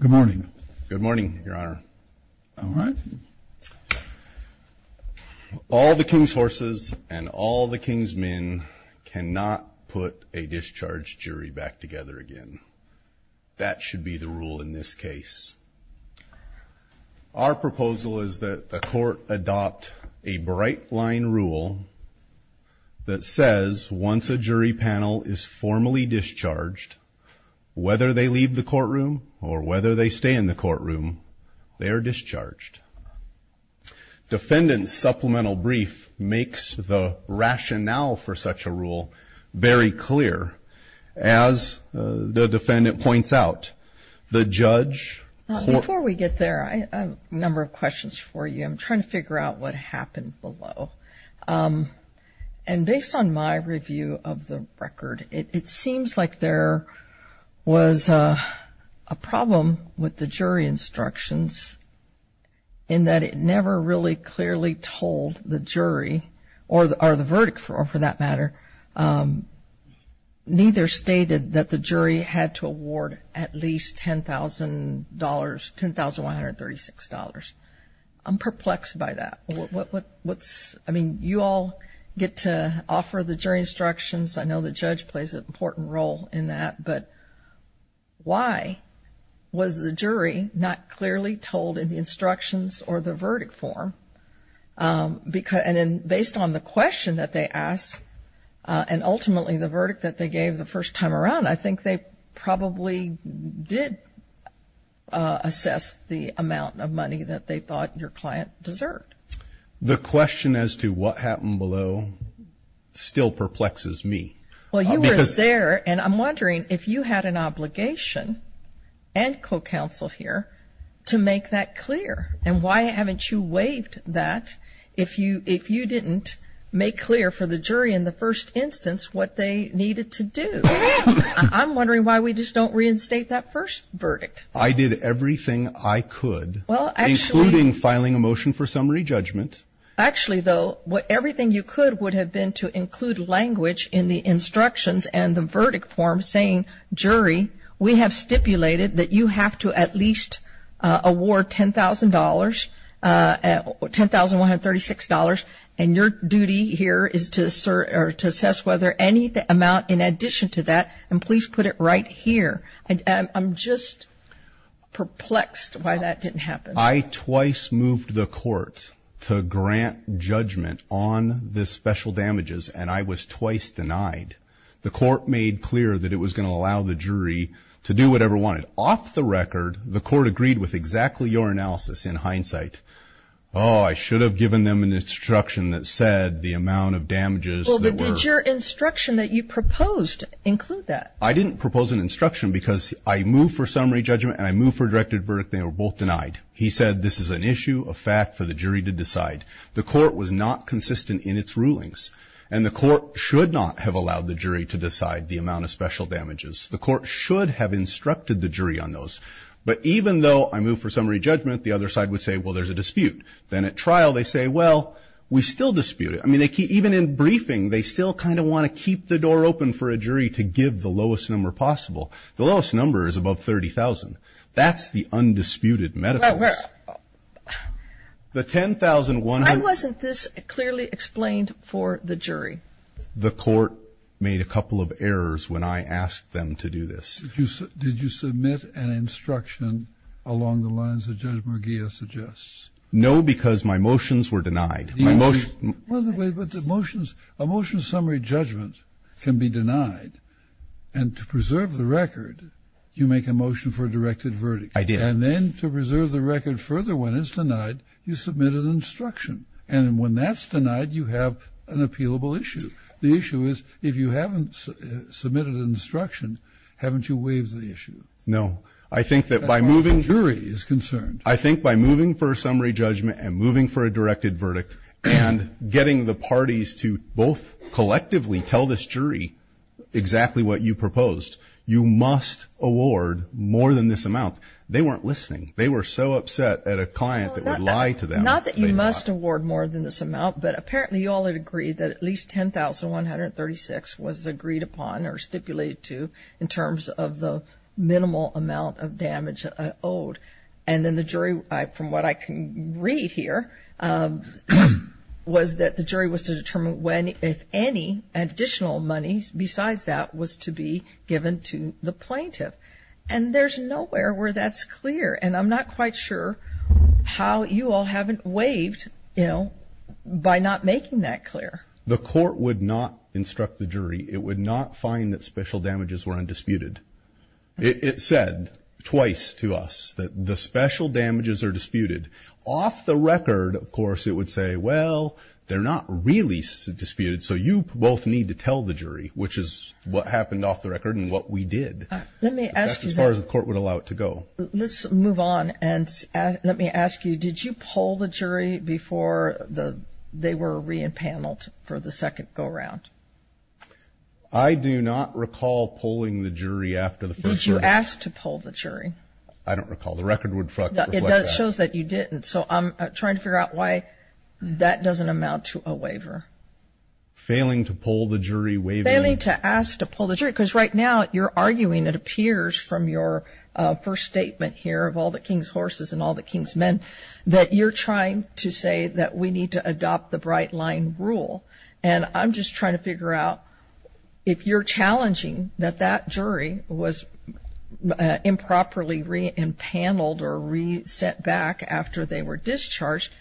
Good morning. Good morning, Your Honor. All right. All the king's horses and all the king's men cannot put a discharged jury back together again. That should be the rule in this case. Our proposal is that the court adopt a bright line rule that says once a jury panel is formally discharged, whether they leave the courtroom or whether they stay in the courtroom, they are discharged. Defendant's supplemental brief makes the rationale for such a rule very clear. As the defendant points out, the judge... Before we get there, I have a number of questions for you. I'm trying to figure out what happened below. And based on my review of the record, it seems like there was a problem with the jury instructions in that it never really clearly told the jury or the verdict for that matter, neither stated that the jury had to award at least $10,000, $10,136. I'm perplexed by that. I mean, you all get to offer the jury instructions. I know the judge plays an important role in that. But why was the jury not clearly told in the instructions or the verdict form? And then based on the question that they asked and ultimately the verdict that they gave the first time around, I think they probably did assess the amount of money that they thought your client deserved. The question as to what happened below still perplexes me. Well, you were there, and I'm wondering if you had an obligation and co-counsel here to make that clear. And why haven't you waived that if you didn't make clear for the jury in the first instance what they needed to do? I'm wondering why we just don't reinstate that first verdict. I did everything I could, including filing a motion for summary judgment. Actually, though, everything you could would have been to include language in the instructions and the verdict form saying, jury, we have stipulated that you have to at least award $10,000, $10,136, and your duty here is to assess whether any amount in addition to that, and please put it right here. I'm just perplexed why that didn't happen. I twice moved the court to grant judgment on the special damages, and I was twice denied. The court made clear that it was going to allow the jury to do whatever it wanted. Off the record, the court agreed with exactly your analysis in hindsight. Oh, I should have given them an instruction that said the amount of damages that were ---- Well, but did your instruction that you proposed include that? I didn't propose an instruction because I moved for summary judgment and I moved for a directed verdict, and they were both denied. He said this is an issue, a fact for the jury to decide. The court was not consistent in its rulings, and the court should not have allowed the jury to decide the amount of special damages. The court should have instructed the jury on those. But even though I moved for summary judgment, the other side would say, well, there's a dispute. Then at trial, they say, well, we still dispute it. I mean, even in briefing, they still kind of want to keep the door open for a jury to give the lowest number possible. The lowest number is above 30,000. That's the undisputed medicals. The 10,100 ---- Why wasn't this clearly explained for the jury? The court made a couple of errors when I asked them to do this. Did you submit an instruction along the lines that Judge Murguia suggests? No, because my motions were denied. Well, but the motions ---- a motion summary judgment can be denied, and to preserve the record, you make a motion for a directed verdict. I did. And then to preserve the record further when it's denied, you submit an instruction. And when that's denied, you have an appealable issue. The issue is if you haven't submitted an instruction, haven't you waived the issue? No. I think that by moving ---- That's how the jury is concerned. I think by moving for a summary judgment and moving for a directed verdict and getting the parties to both collectively tell this jury exactly what you proposed, you must award more than this amount. They weren't listening. They were so upset at a client that would lie to them. Not that you must award more than this amount, but apparently you all had agreed that at least $10,136 was agreed upon or stipulated to in terms of the minimal amount of damage owed. And then the jury, from what I can read here, was that the jury was to determine when, if any, additional money besides that was to be given to the plaintiff. And there's nowhere where that's clear. And I'm not quite sure how you all haven't waived, you know, by not making that clear. The court would not instruct the jury. It would not find that special damages were undisputed. It said twice to us that the special damages are disputed. Off the record, of course, it would say, well, they're not really disputed, so you both need to tell the jury, which is what happened off the record and what we did. That's as far as the court would allow it to go. Let's move on and let me ask you, did you poll the jury before they were re-enpaneled for the second go-around? I do not recall polling the jury after the first hearing. Did you ask to poll the jury? I don't recall. The record would reflect that. It shows that you didn't. So I'm trying to figure out why that doesn't amount to a waiver. Failing to poll the jury, waiving. I'm trying to ask to poll the jury because right now you're arguing, it appears from your first statement here of all the king's horses and all the king's men, that you're trying to say that we need to adopt the Bright Line rule. And I'm just trying to figure out if you're challenging that that jury was improperly re-enpaneled or re-sent back after they were discharged,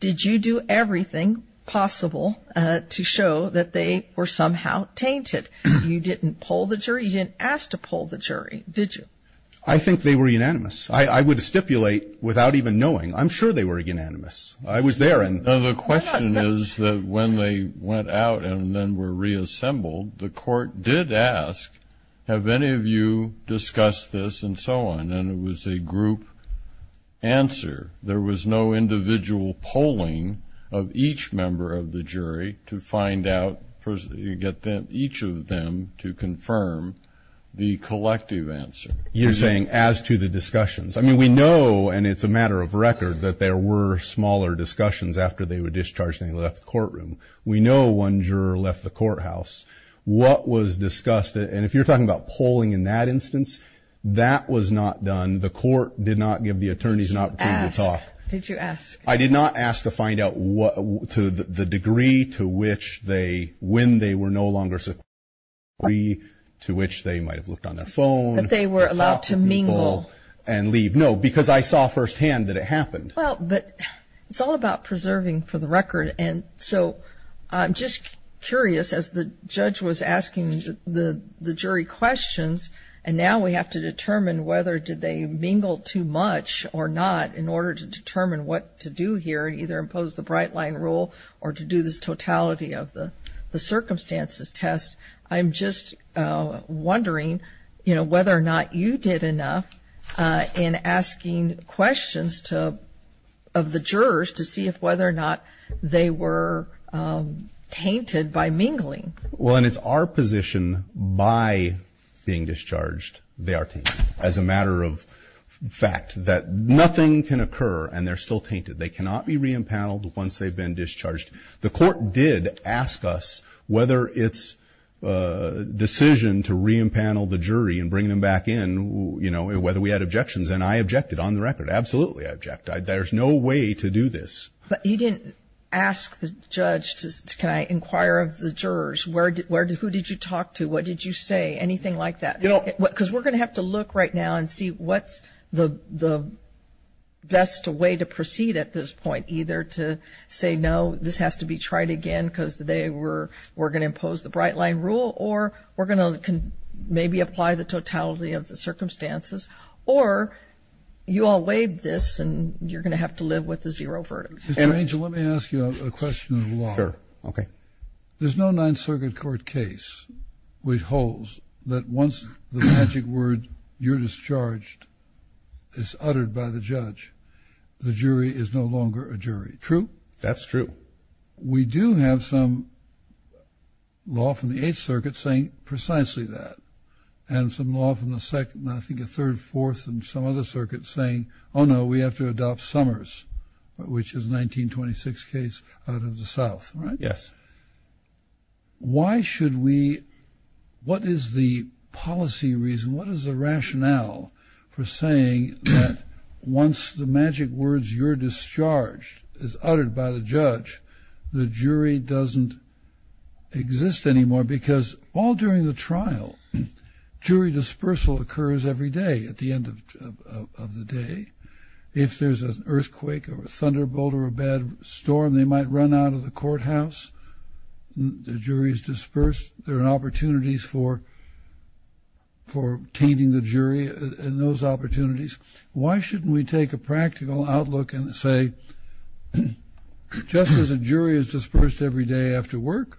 did you do everything possible to show that they were somehow tainted? You didn't poll the jury. You didn't ask to poll the jury, did you? I think they were unanimous. I would stipulate without even knowing. I'm sure they were unanimous. I was there and the question is that when they went out and then were reassembled, the court did ask, have any of you discussed this and so on, and it was a group answer. There was no individual polling of each member of the jury to find out, get each of them to confirm the collective answer. You're saying as to the discussions. I mean, we know, and it's a matter of record, that there were smaller discussions after they were discharged and they left the courtroom. We know one juror left the courthouse. What was discussed, and if you're talking about polling in that instance, that was not done. And the court did not give the attorneys an opportunity to talk. Did you ask? I did not ask to find out the degree to which they, when they were no longer secure, the degree to which they might have looked on their phone. That they were allowed to mingle. And leave. No, because I saw firsthand that it happened. Well, but it's all about preserving for the record, and so I'm just curious as the judge was asking the jury questions, and now we have to determine whether did they mingle too much or not in order to determine what to do here and either impose the bright line rule or to do this totality of the circumstances test. I'm just wondering, you know, whether or not you did enough in asking questions to, of the jurors to see if whether or not they were tainted by mingling. Well, and it's our position by being discharged they are tainted. As a matter of fact, that nothing can occur and they're still tainted. They cannot be re-empaneled once they've been discharged. The court did ask us whether its decision to re-empanel the jury and bring them back in, you know, whether we had objections. And I objected on the record. Absolutely, I object. There's no way to do this. But you didn't ask the judge, can I inquire of the jurors? Who did you talk to? What did you say? Anything like that. Because we're going to have to look right now and see what's the best way to proceed at this point, either to say no, this has to be tried again because they were going to impose the bright line rule, or we're going to maybe apply the totality of the circumstances, or you all waived this and you're going to have to live with the zero verdict. Mr. Angel, let me ask you a question of the law. Sure. Okay. There's no Ninth Circuit court case which holds that once the magic word, you're discharged, is uttered by the judge, the jury is no longer a jury. True? That's true. We do have some law from the Eighth Circuit saying precisely that, and some law from the second, I think the third, fourth, and some other circuits saying, oh, no, we have to adopt Summers, which is a 1926 case out of the South, right? Yes. Why should we, what is the policy reason, what is the rationale for saying that once the magic words, you're discharged, is uttered by the judge, the jury doesn't exist anymore? Because all during the trial, jury dispersal occurs every day at the end of the day. If there's an earthquake or a thunderbolt or a bad storm, they might run out of the courthouse. The jury is dispersed. There are opportunities for tainting the jury in those opportunities. Why shouldn't we take a practical outlook and say, just as a jury is dispersed every day after work,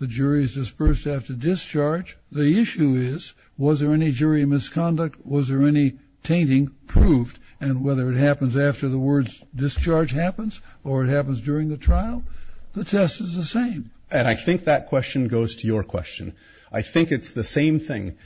the jury is dispersed after discharge. The issue is, was there any jury misconduct? Was there any tainting proved? And whether it happens after the words discharge happens or it happens during the trial, the test is the same. And I think that question goes to your question. I think it's the same thing.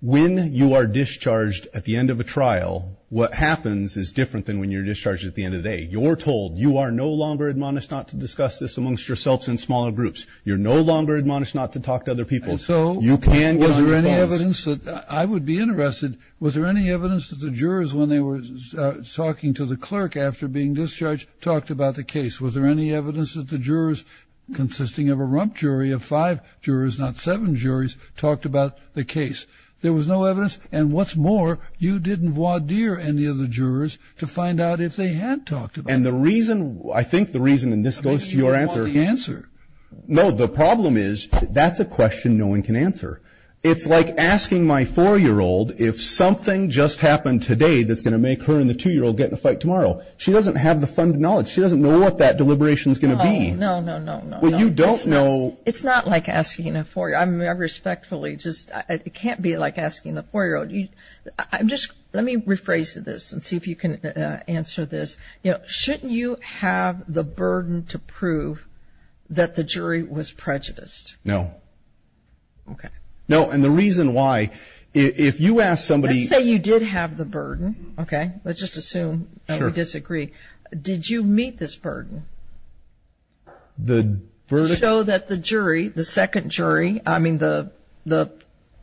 When you are discharged at the end of a trial, what happens is different than when you're discharged at the end of the day. You're told you are no longer admonished not to discuss this amongst yourselves in smaller groups. You're no longer admonished not to talk to other people. You can go on your phones. I would be interested, was there any evidence that the jurors, when they were talking to the clerk after being discharged, talked about the case? Was there any evidence that the jurors, consisting of a rump jury of five jurors, not seven juries, talked about the case? There was no evidence. And what's more, you didn't voir dire any of the jurors to find out if they had talked about it. And the reason, I think the reason, and this goes to your answer. You don't want the answer. No, the problem is, that's a question no one can answer. It's like asking my four-year-old if something just happened today that's going to make her and the two-year-old get in a fight tomorrow. She doesn't have the funded knowledge. She doesn't know what that deliberation is going to be. No, no, no, no. Well, you don't know. It's not like asking a four-year-old. I respectfully just, it can't be like asking a four-year-old. I'm just, let me rephrase this and see if you can answer this. You know, shouldn't you have the burden to prove that the jury was prejudiced? No. Okay. No, and the reason why, if you ask somebody. Let's say you did have the burden, okay? Sure. Did you meet this burden? The verdict. To show that the jury, the second jury, I mean the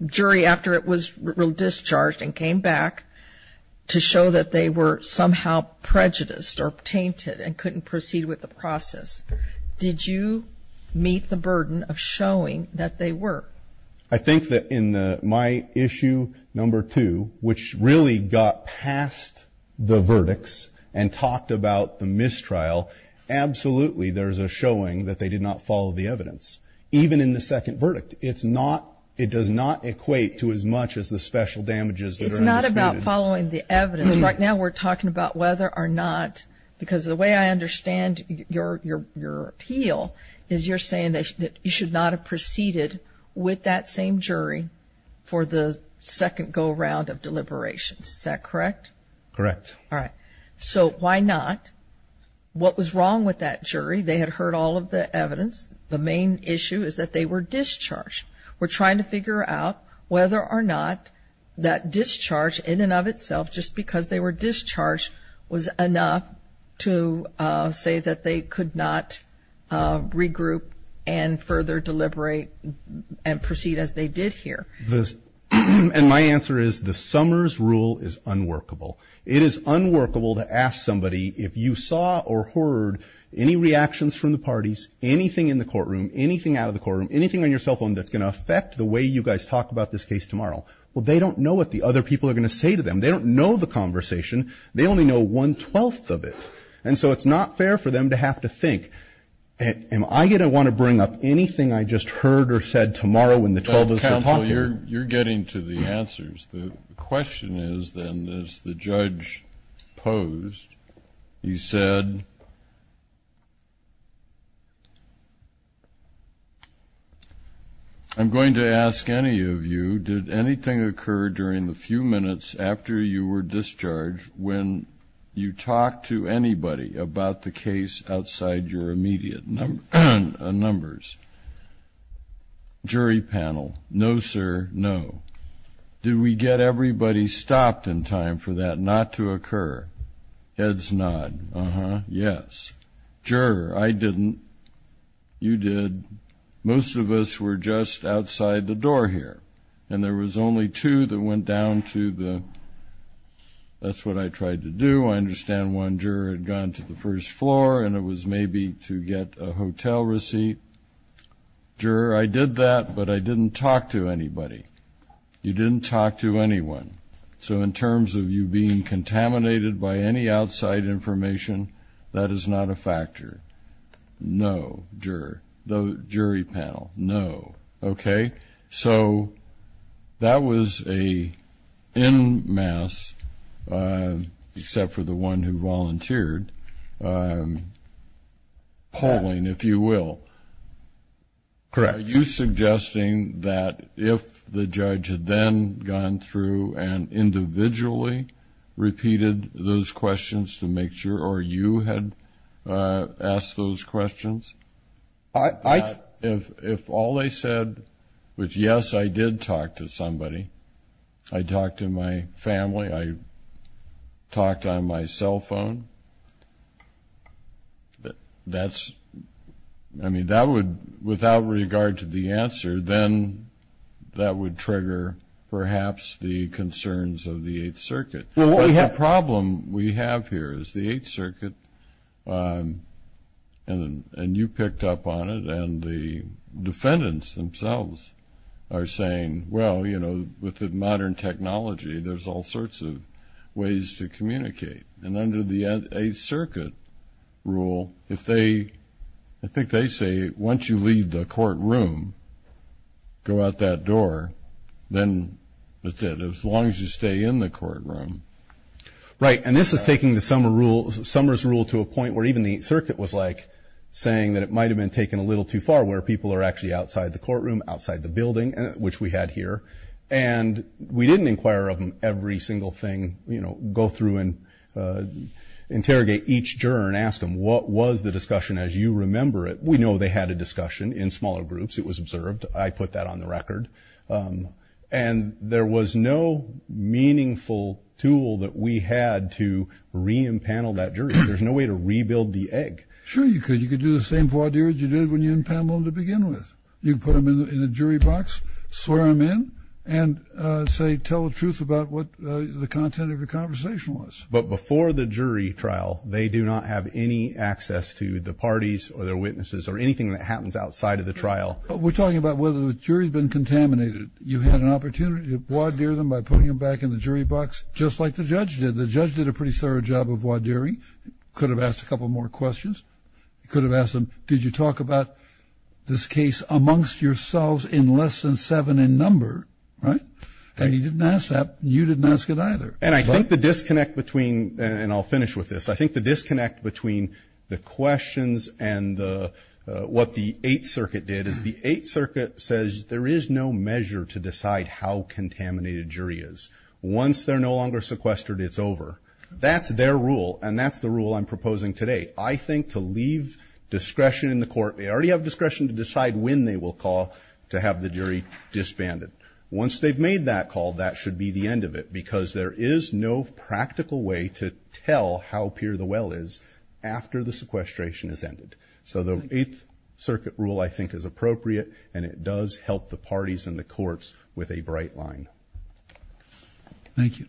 jury after it was discharged and came back, to show that they were somehow prejudiced or tainted and couldn't proceed with the process. Did you meet the burden of showing that they were? I think that in my issue number two, which really got past the verdicts and talked about the mistrial, absolutely there's a showing that they did not follow the evidence, even in the second verdict. It's not, it does not equate to as much as the special damages. It's not about following the evidence. Right now we're talking about whether or not, because the way I understand your appeal is you're saying that you should not have proceeded with that same jury for the second go-around of deliberations. Is that correct? Correct. All right. So why not? What was wrong with that jury? They had heard all of the evidence. The main issue is that they were discharged. We're trying to figure out whether or not that discharge in and of itself, just because they were discharged, was enough to say that they could not regroup and further deliberate and proceed as they did here. And my answer is the Summers rule is unworkable. It is unworkable to ask somebody, if you saw or heard any reactions from the parties, anything in the courtroom, anything out of the courtroom, anything on your cell phone that's going to affect the way you guys talk about this case tomorrow. Well, they don't know what the other people are going to say to them. They don't know the conversation. They only know one-twelfth of it. And so it's not fair for them to have to think, am I going to want to bring up anything I just heard or said tomorrow when the 12 is still talking? Counsel, you're getting to the answers. The question is, then, as the judge posed, he said, I'm going to ask any of you, did anything occur during the few minutes after you were discharged when you talked to anybody about the case outside your immediate numbers? Jury panel, no, sir, no. Did we get everybody stopped in time for that not to occur? Heads nod. Uh-huh. Yes. Juror, I didn't. You did. Most of us were just outside the door here, and there was only two that went down to the, that's what I tried to do. I understand one juror had gone to the first floor, and it was maybe to get a hotel receipt. Juror, I did that, but I didn't talk to anybody. You didn't talk to anyone. So in terms of you being contaminated by any outside information, that is not a factor. No, juror. Jury panel, no. Okay. So that was an en masse, except for the one who volunteered, polling, if you will. Correct. Are you suggesting that if the judge had then gone through and individually repeated those questions to make sure, or you had asked those questions, if all they said was, yes, I did talk to somebody, I talked to my family, I talked on my cell phone, that's, I mean, that would, without regard to the answer, then that would trigger perhaps the concerns of the Eighth Circuit. Well, what we have. The problem we have here is the Eighth Circuit, and you picked up on it, and the defendants themselves are saying, well, you know, with the modern technology, there's all sorts of ways to communicate. And under the Eighth Circuit rule, if they, I think they say, once you leave the courtroom, go out that door, then that's it, as long as you stay in the courtroom. Right. And this is taking the Summers rule to a point where even the Eighth Circuit was like saying that it might have been taken a little too far, where people are actually outside the courtroom, outside the building, which we had here. And we didn't inquire of them every single thing, you know, go through and interrogate each juror and ask them what was the discussion, as you remember it. We know they had a discussion in smaller groups. It was observed. I put that on the record. And there was no meaningful tool that we had to re-impanel that jury. There's no way to rebuild the egg. Sure you could. You could do the same voideer as you did when you impaneled them to begin with. You could put them in a jury box, swear them in, and say, tell the truth about what the content of your conversation was. But before the jury trial, they do not have any access to the parties or their witnesses or anything that happens outside of the trial. We're talking about whether the jury had been contaminated. You had an opportunity to voideer them by putting them back in the jury box, just like the judge did. The judge did a pretty thorough job of voideering. Could have asked a couple more questions. Could have asked them, did you talk about this case amongst yourselves in less than seven in number, right? And he didn't ask that. You didn't ask it either. And I think the disconnect between, and I'll finish with this, I think the disconnect between the questions and what the Eighth Circuit did is the Eighth Circuit says there is no measure to decide how contaminated a jury is. Once they're no longer sequestered, it's over. That's their rule, and that's the rule I'm proposing today. I think to leave discretion in the court, they already have discretion to decide when they will call to have the jury disbanded. Once they've made that call, that should be the end of it, because there is no practical way to tell how pure the well is after the sequestration is ended. So the Eighth Circuit rule, I think, is appropriate, and it does help the parties in the courts with a bright line. Thank you.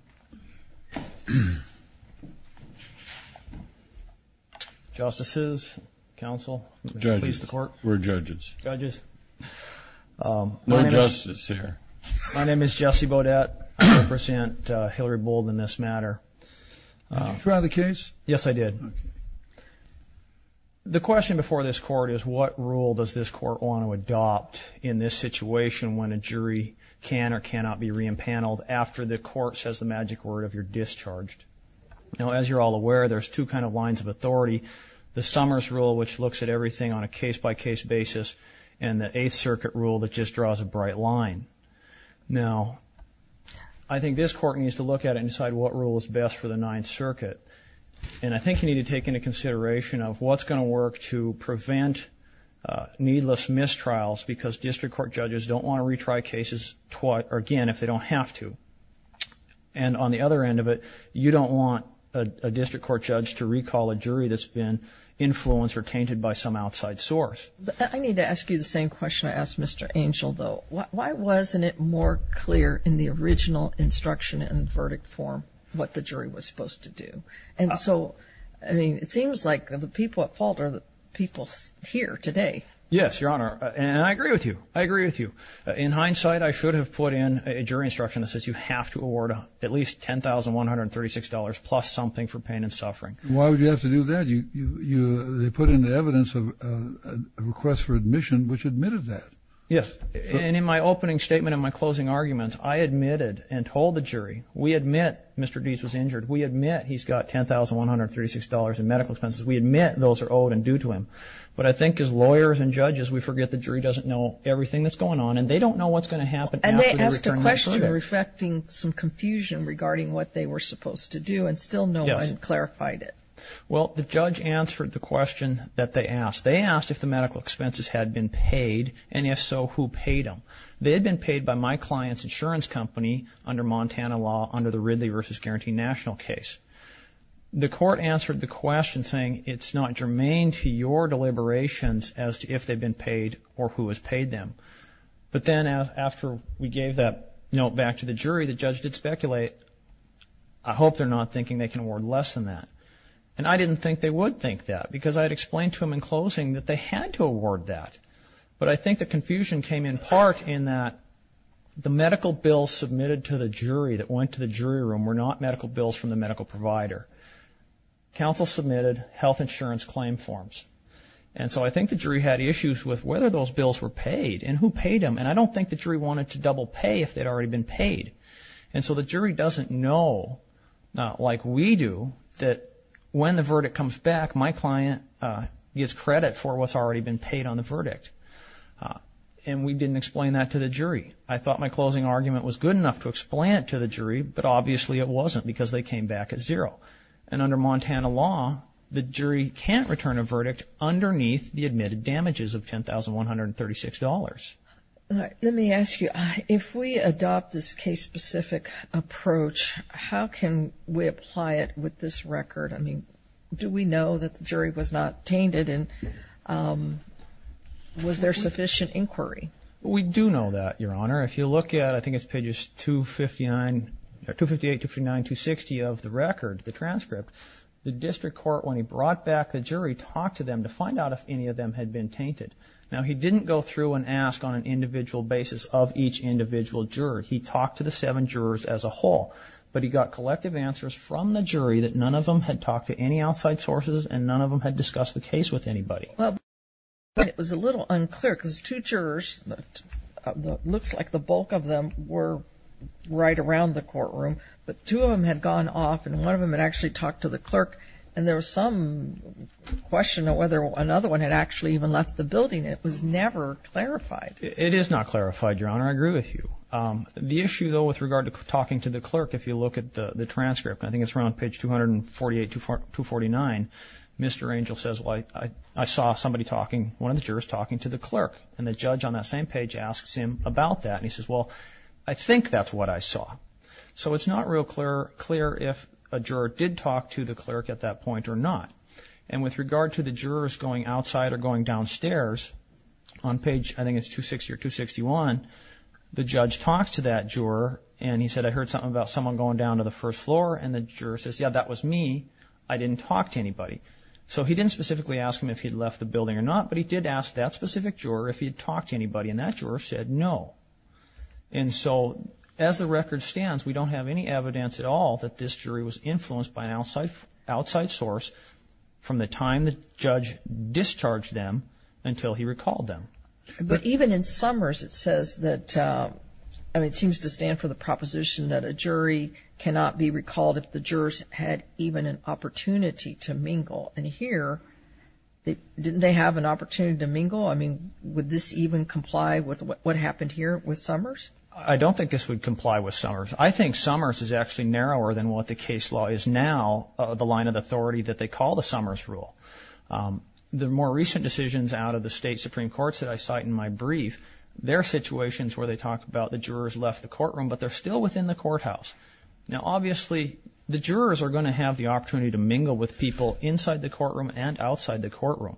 Justices? Counsel? Judges? We're judges. Judges? No justice here. My name is Jesse Beaudet. I represent Hilary Bold in this matter. Did you try the case? Yes, I did. Okay. The question before this court is what rule does this court want to adopt in this situation when a jury can or cannot be re-enpaneled after the court says the magic word of you're discharged? Now, as you're all aware, there's two kinds of lines of authority, the Summers rule, which looks at everything on a case-by-case basis, and the Eighth Circuit rule that just draws a bright line. Now, I think this court needs to look at it and decide what rule is best for the Ninth Circuit, and I think you need to take into consideration of what's going to work to prevent needless mistrials because district court judges don't want to retry cases again if they don't have to. And on the other end of it, you don't want a district court judge to recall a jury that's been influenced or tainted by some outside source. I need to ask you the same question I asked Mr. Angel, though. Why wasn't it more clear in the original instruction and verdict form what the jury was supposed to do? And so, I mean, it seems like the people at fault are the people here today. Yes, Your Honor, and I agree with you. I agree with you. In hindsight, I should have put in a jury instruction that says you have to award at least $10,136, plus something for pain and suffering. Why would you have to do that? They put in the evidence of a request for admission, which admitted that. Yes, and in my opening statement and my closing arguments, I admitted and told the jury, we admit Mr. Deese was injured. We admit he's got $10,136 in medical expenses. We admit those are owed and due to him. But I think as lawyers and judges, we forget the jury doesn't know everything that's going on, and they don't know what's going to happen after the return of the jury. And they asked a question reflecting some confusion regarding what they were supposed to do, and still no one clarified it. Well, the judge answered the question that they asked. They asked if the medical expenses had been paid, and if so, who paid them. They had been paid by my client's insurance company under Montana law, under the Ridley v. Guarantee National case. The court answered the question saying, it's not germane to your deliberations as to if they've been paid or who has paid them. But then after we gave that note back to the jury, the judge did speculate, I hope they're not thinking they can award less than that. And I didn't think they would think that because I had explained to them in closing that they had to award that. But I think the confusion came in part in that the medical bills submitted to the jury that went to the jury room were not medical bills from the medical provider. Counsel submitted health insurance claim forms. And so I think the jury had issues with whether those bills were paid and who paid them. And I don't think the jury wanted to double pay if they'd already been paid. And so the jury doesn't know, like we do, that when the verdict comes back, my client gets credit for what's already been paid on the verdict. And we didn't explain that to the jury. I thought my closing argument was good enough to explain it to the jury, but obviously it wasn't because they came back at zero. And under Montana law, the jury can't return a verdict underneath the admitted damages of $10,136. Let me ask you, if we adopt this case-specific approach, how can we apply it with this record? I mean, do we know that the jury was not tainted and was there sufficient inquiry? We do know that, Your Honor. If you look at, I think it's pages 258, 259, 260 of the record, the transcript, the district court, when he brought back the jury, talked to them to find out if any of them had been tainted. Now, he didn't go through and ask on an individual basis of each individual juror. He talked to the seven jurors as a whole. But he got collective answers from the jury that none of them had talked to any outside sources and none of them had discussed the case with anybody. But it was a little unclear because two jurors, it looks like the bulk of them were right around the courtroom, but two of them had gone off and one of them had actually talked to the clerk. And there was some question of whether another one had actually even left the building. It was never clarified. It is not clarified, Your Honor. I agree with you. The issue, though, with regard to talking to the clerk, if you look at the transcript, and I think it's around page 248 to 249, Mr. Angel says, well, I saw somebody talking, one of the jurors talking to the clerk. And the judge on that same page asks him about that. And he says, well, I think that's what I saw. So it's not real clear if a juror did talk to the clerk at that point or not. And with regard to the jurors going outside or going downstairs, on page, I think it's 260 or 261, the judge talks to that juror, and he said, I heard something about someone going down to the first floor, and the juror says, yeah, that was me. I didn't talk to anybody. So he didn't specifically ask him if he had left the building or not, but he did ask that specific juror if he had talked to anybody, and that juror said no. And so as the record stands, we don't have any evidence at all that this jury was influenced by an outside source from the time the judge discharged them until he recalled them. But even in Summers, it says that, I mean, it seems to stand for the proposition that a jury cannot be recalled if the jurors had even an opportunity to mingle. And here, didn't they have an opportunity to mingle? I mean, would this even comply with what happened here with Summers? I don't think this would comply with Summers. I think Summers is actually narrower than what the case law is now, the line of authority that they call the Summers rule. The more recent decisions out of the state Supreme Courts that I cite in my brief, they're situations where they talk about the jurors left the courtroom, but they're still within the courthouse. Now, obviously, the jurors are going to have the opportunity to mingle with people inside the courtroom and outside the courtroom.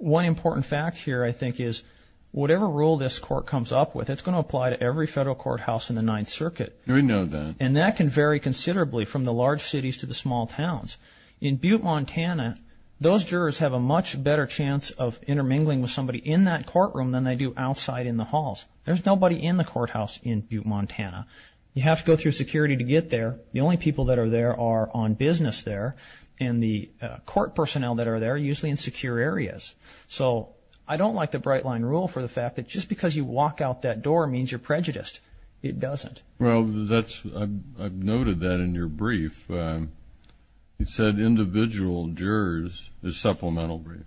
One important fact here, I think, is whatever rule this court comes up with, it's going to apply to every federal courthouse in the Ninth Circuit. We know that. And that can vary considerably from the large cities to the small towns. In Butte, Montana, those jurors have a much better chance of intermingling with somebody in that courtroom than they do outside in the halls. There's nobody in the courthouse in Butte, Montana. You have to go through security to get there. The only people that are there are on business there, and the court personnel that are there are usually in secure areas. So I don't like the Bright Line rule for the fact that just because you walk out that door means you're prejudiced. It doesn't. Well, I've noted that in your brief. You said individual jurors, the supplemental brief,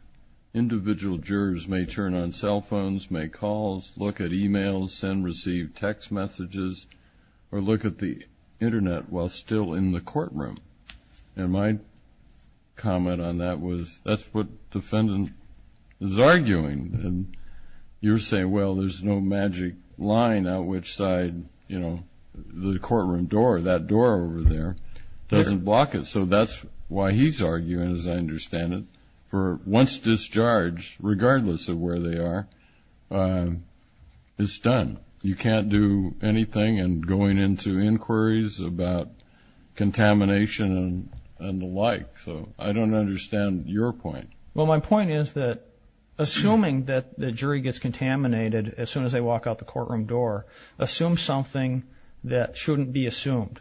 individual jurors may turn on cell phones, make calls, look at e-mails, send and receive text messages, or look at the Internet while still in the courtroom. And my comment on that was that's what the defendant is arguing. And you're saying, well, there's no magic line out which side, you know, the courtroom door, that door over there, doesn't block it. So that's why he's arguing, as I understand it, for once discharged, regardless of where they are, it's done. You can't do anything in going into inquiries about contamination and the like. So I don't understand your point. Well, my point is that assuming that the jury gets contaminated as soon as they walk out the courtroom door, assume something that shouldn't be assumed.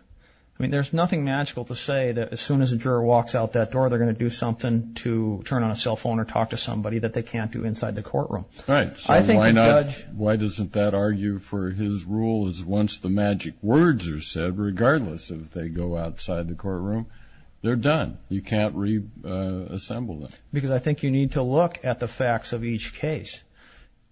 I mean, there's nothing magical to say that as soon as a juror walks out that door they're going to do something to turn on a cell phone or talk to somebody that they can't do inside the courtroom. Right. So why doesn't that argue for his rule is once the magic words are said, regardless of if they go outside the courtroom, they're done. You can't reassemble them. Because I think you need to look at the facts of each case.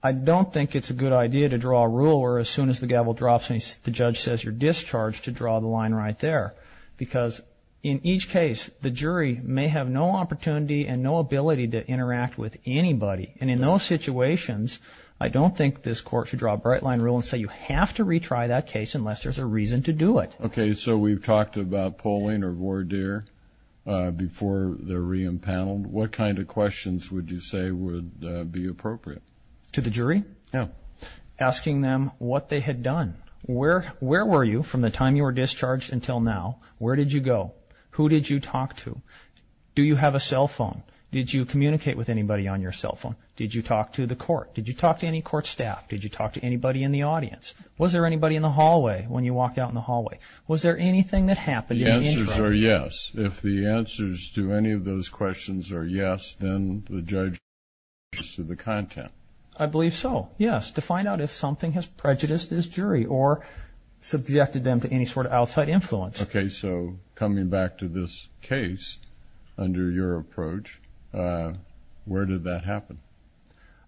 I don't think it's a good idea to draw a rule where as soon as the gavel drops and the judge says you're discharged to draw the line right there, because in each case the jury may have no opportunity and no ability to interact with anybody. And in those situations I don't think this court should draw a bright line rule and say you have to retry that case unless there's a reason to do it. Okay. So we've talked about polling or voir dire before they're re-impaneled. What kind of questions would you say would be appropriate? To the jury? Yeah. Asking them what they had done. Where were you from the time you were discharged until now? Where did you go? Who did you talk to? Do you have a cell phone? Did you communicate with anybody on your cell phone? Did you talk to any court staff? Did you talk to anybody in the audience? Was there anybody in the hallway when you walked out in the hallway? Was there anything that happened in the interim? The answers are yes. If the answers to any of those questions are yes, then the judge has prejudice to the content. I believe so, yes. To find out if something has prejudiced this jury or subjected them to any sort of outside influence. Okay. So coming back to this case under your approach, where did that happen?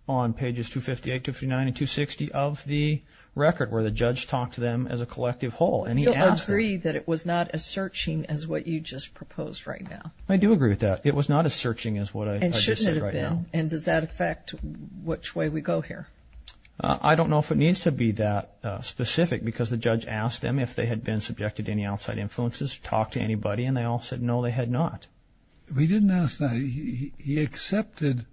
On pages 258, 259, and 260 of the record, where the judge talked to them as a collective whole, and he asked them. You'll agree that it was not as searching as what you just proposed right now. I do agree with that. It was not as searching as what I just said right now. And shouldn't it have been? And does that affect which way we go here? I don't know if it needs to be that specific, because the judge asked them if they had been subjected to any outside influences, talked to anybody, and they all said no, they had not. He didn't ask that. He accepted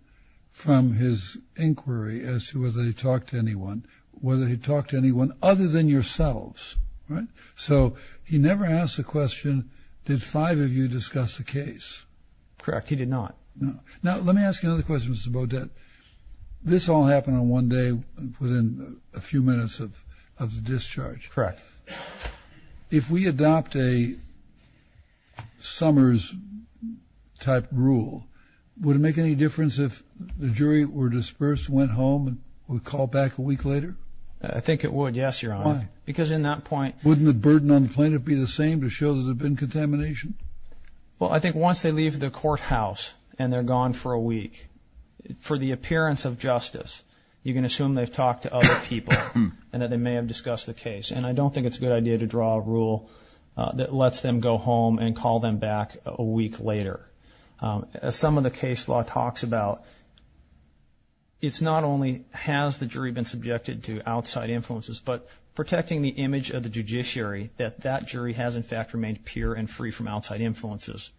from his inquiry as to whether he talked to anyone, whether he talked to anyone other than yourselves, right? So he never asked the question, did five of you discuss the case? Correct. He did not. Now let me ask you another question, Mr. Beaudet. This all happened on one day within a few minutes of the discharge. Correct. If we adopt a Summers-type rule, would it make any difference if the jury were dispersed, went home, and were called back a week later? I think it would, yes, Your Honor. Why? Because in that point – Wouldn't the burden on the plaintiff be the same to show there's been contamination? Well, I think once they leave the courthouse and they're gone for a week, for the appearance of justice, you can assume they've talked to other people and that they may have discussed the case. And I don't think it's a good idea to draw a rule that lets them go home and call them back a week later. As some of the case law talks about, it's not only has the jury been subjected to outside influences, but protecting the image of the judiciary that that jury has, in fact, remained pure and free from outside influences.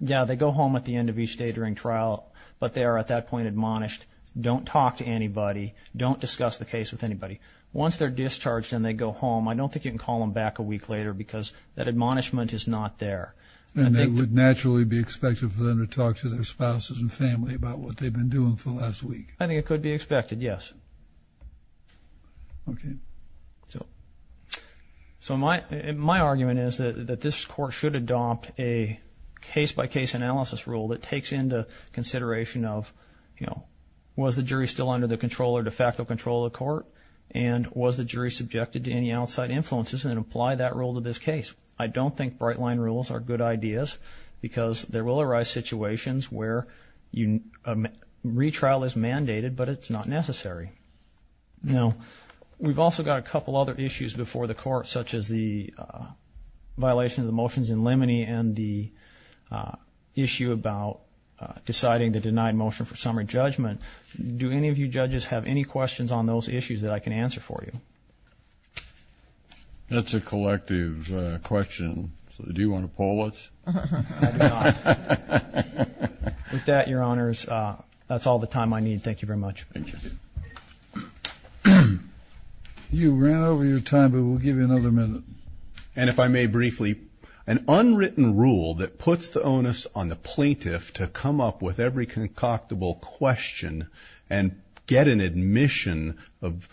Yeah, they go home at the end of each day during trial, but they are at that point admonished, don't talk to anybody, don't discuss the case with anybody. Once they're discharged and they go home, I don't think you can call them back a week later because that admonishment is not there. And it would naturally be expected for them to talk to their spouses and family about what they've been doing for the last week. I think it could be expected, yes. Okay. So my argument is that this Court should adopt a case-by-case analysis rule that takes into consideration of, you know, was the jury still under the control or de facto control of the Court, and was the jury subjected to any outside influences, and apply that rule to this case. I don't think bright-line rules are good ideas because there will arise situations where retrial is mandated, but it's not necessary. Now, we've also got a couple other issues before the Court, such as the violation of the motions in limine and the issue about deciding the denied motion for summary judgment. Do any of you judges have any questions on those issues that I can answer for you? That's a collective question. So do you want to poll us? I do not. With that, Your Honors, that's all the time I need. Thank you very much. Thank you. You ran over your time, but we'll give you another minute. And if I may briefly, an unwritten rule that puts the onus on the plaintiff to come up with every concoctable question and get an admission of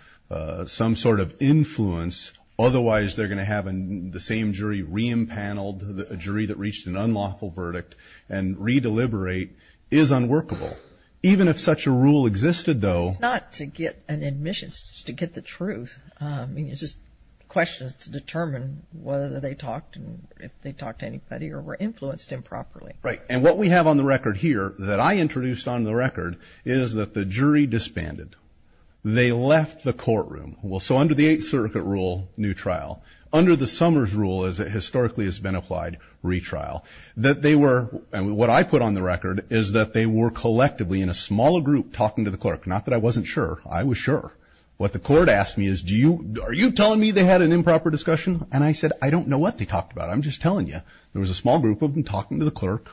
some sort of influence, otherwise they're going to have the same jury re-impaneled, a jury that reached an unlawful verdict, and re-deliberate is unworkable. Even if such a rule existed, though. It's not to get an admission, it's just to get the truth. It's just questions to determine whether they talked and if they talked to anybody or were influenced improperly. Right. And what we have on the record here that I introduced on the record is that the jury disbanded. They left the courtroom. So under the Eighth Circuit rule, new trial. Under the Summers rule, as it historically has been applied, retrial. What I put on the record is that they were collectively, in a smaller group, talking to the clerk. Not that I wasn't sure. I was sure. What the court asked me is, are you telling me they had an improper discussion? And I said, I don't know what they talked about. I'm just telling you. There was a small group of them talking to the clerk.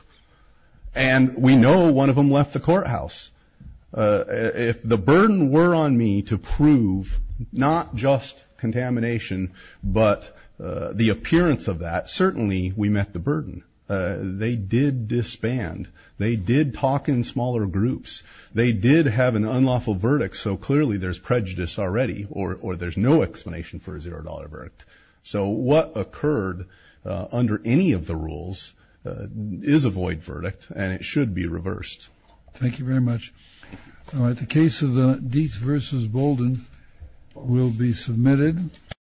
And we know one of them left the courthouse. If the burden were on me to prove not just contamination, but the appearance of that, certainly we met the burden. They did disband. They did talk in smaller groups. They did have an unlawful verdict. So clearly there's prejudice already, or there's no explanation for a zero-dollar verdict. So what occurred under any of the rules is a void verdict, and it should be reversed. Thank you very much. All right, the case of Dietz v. Bolden will be submitted.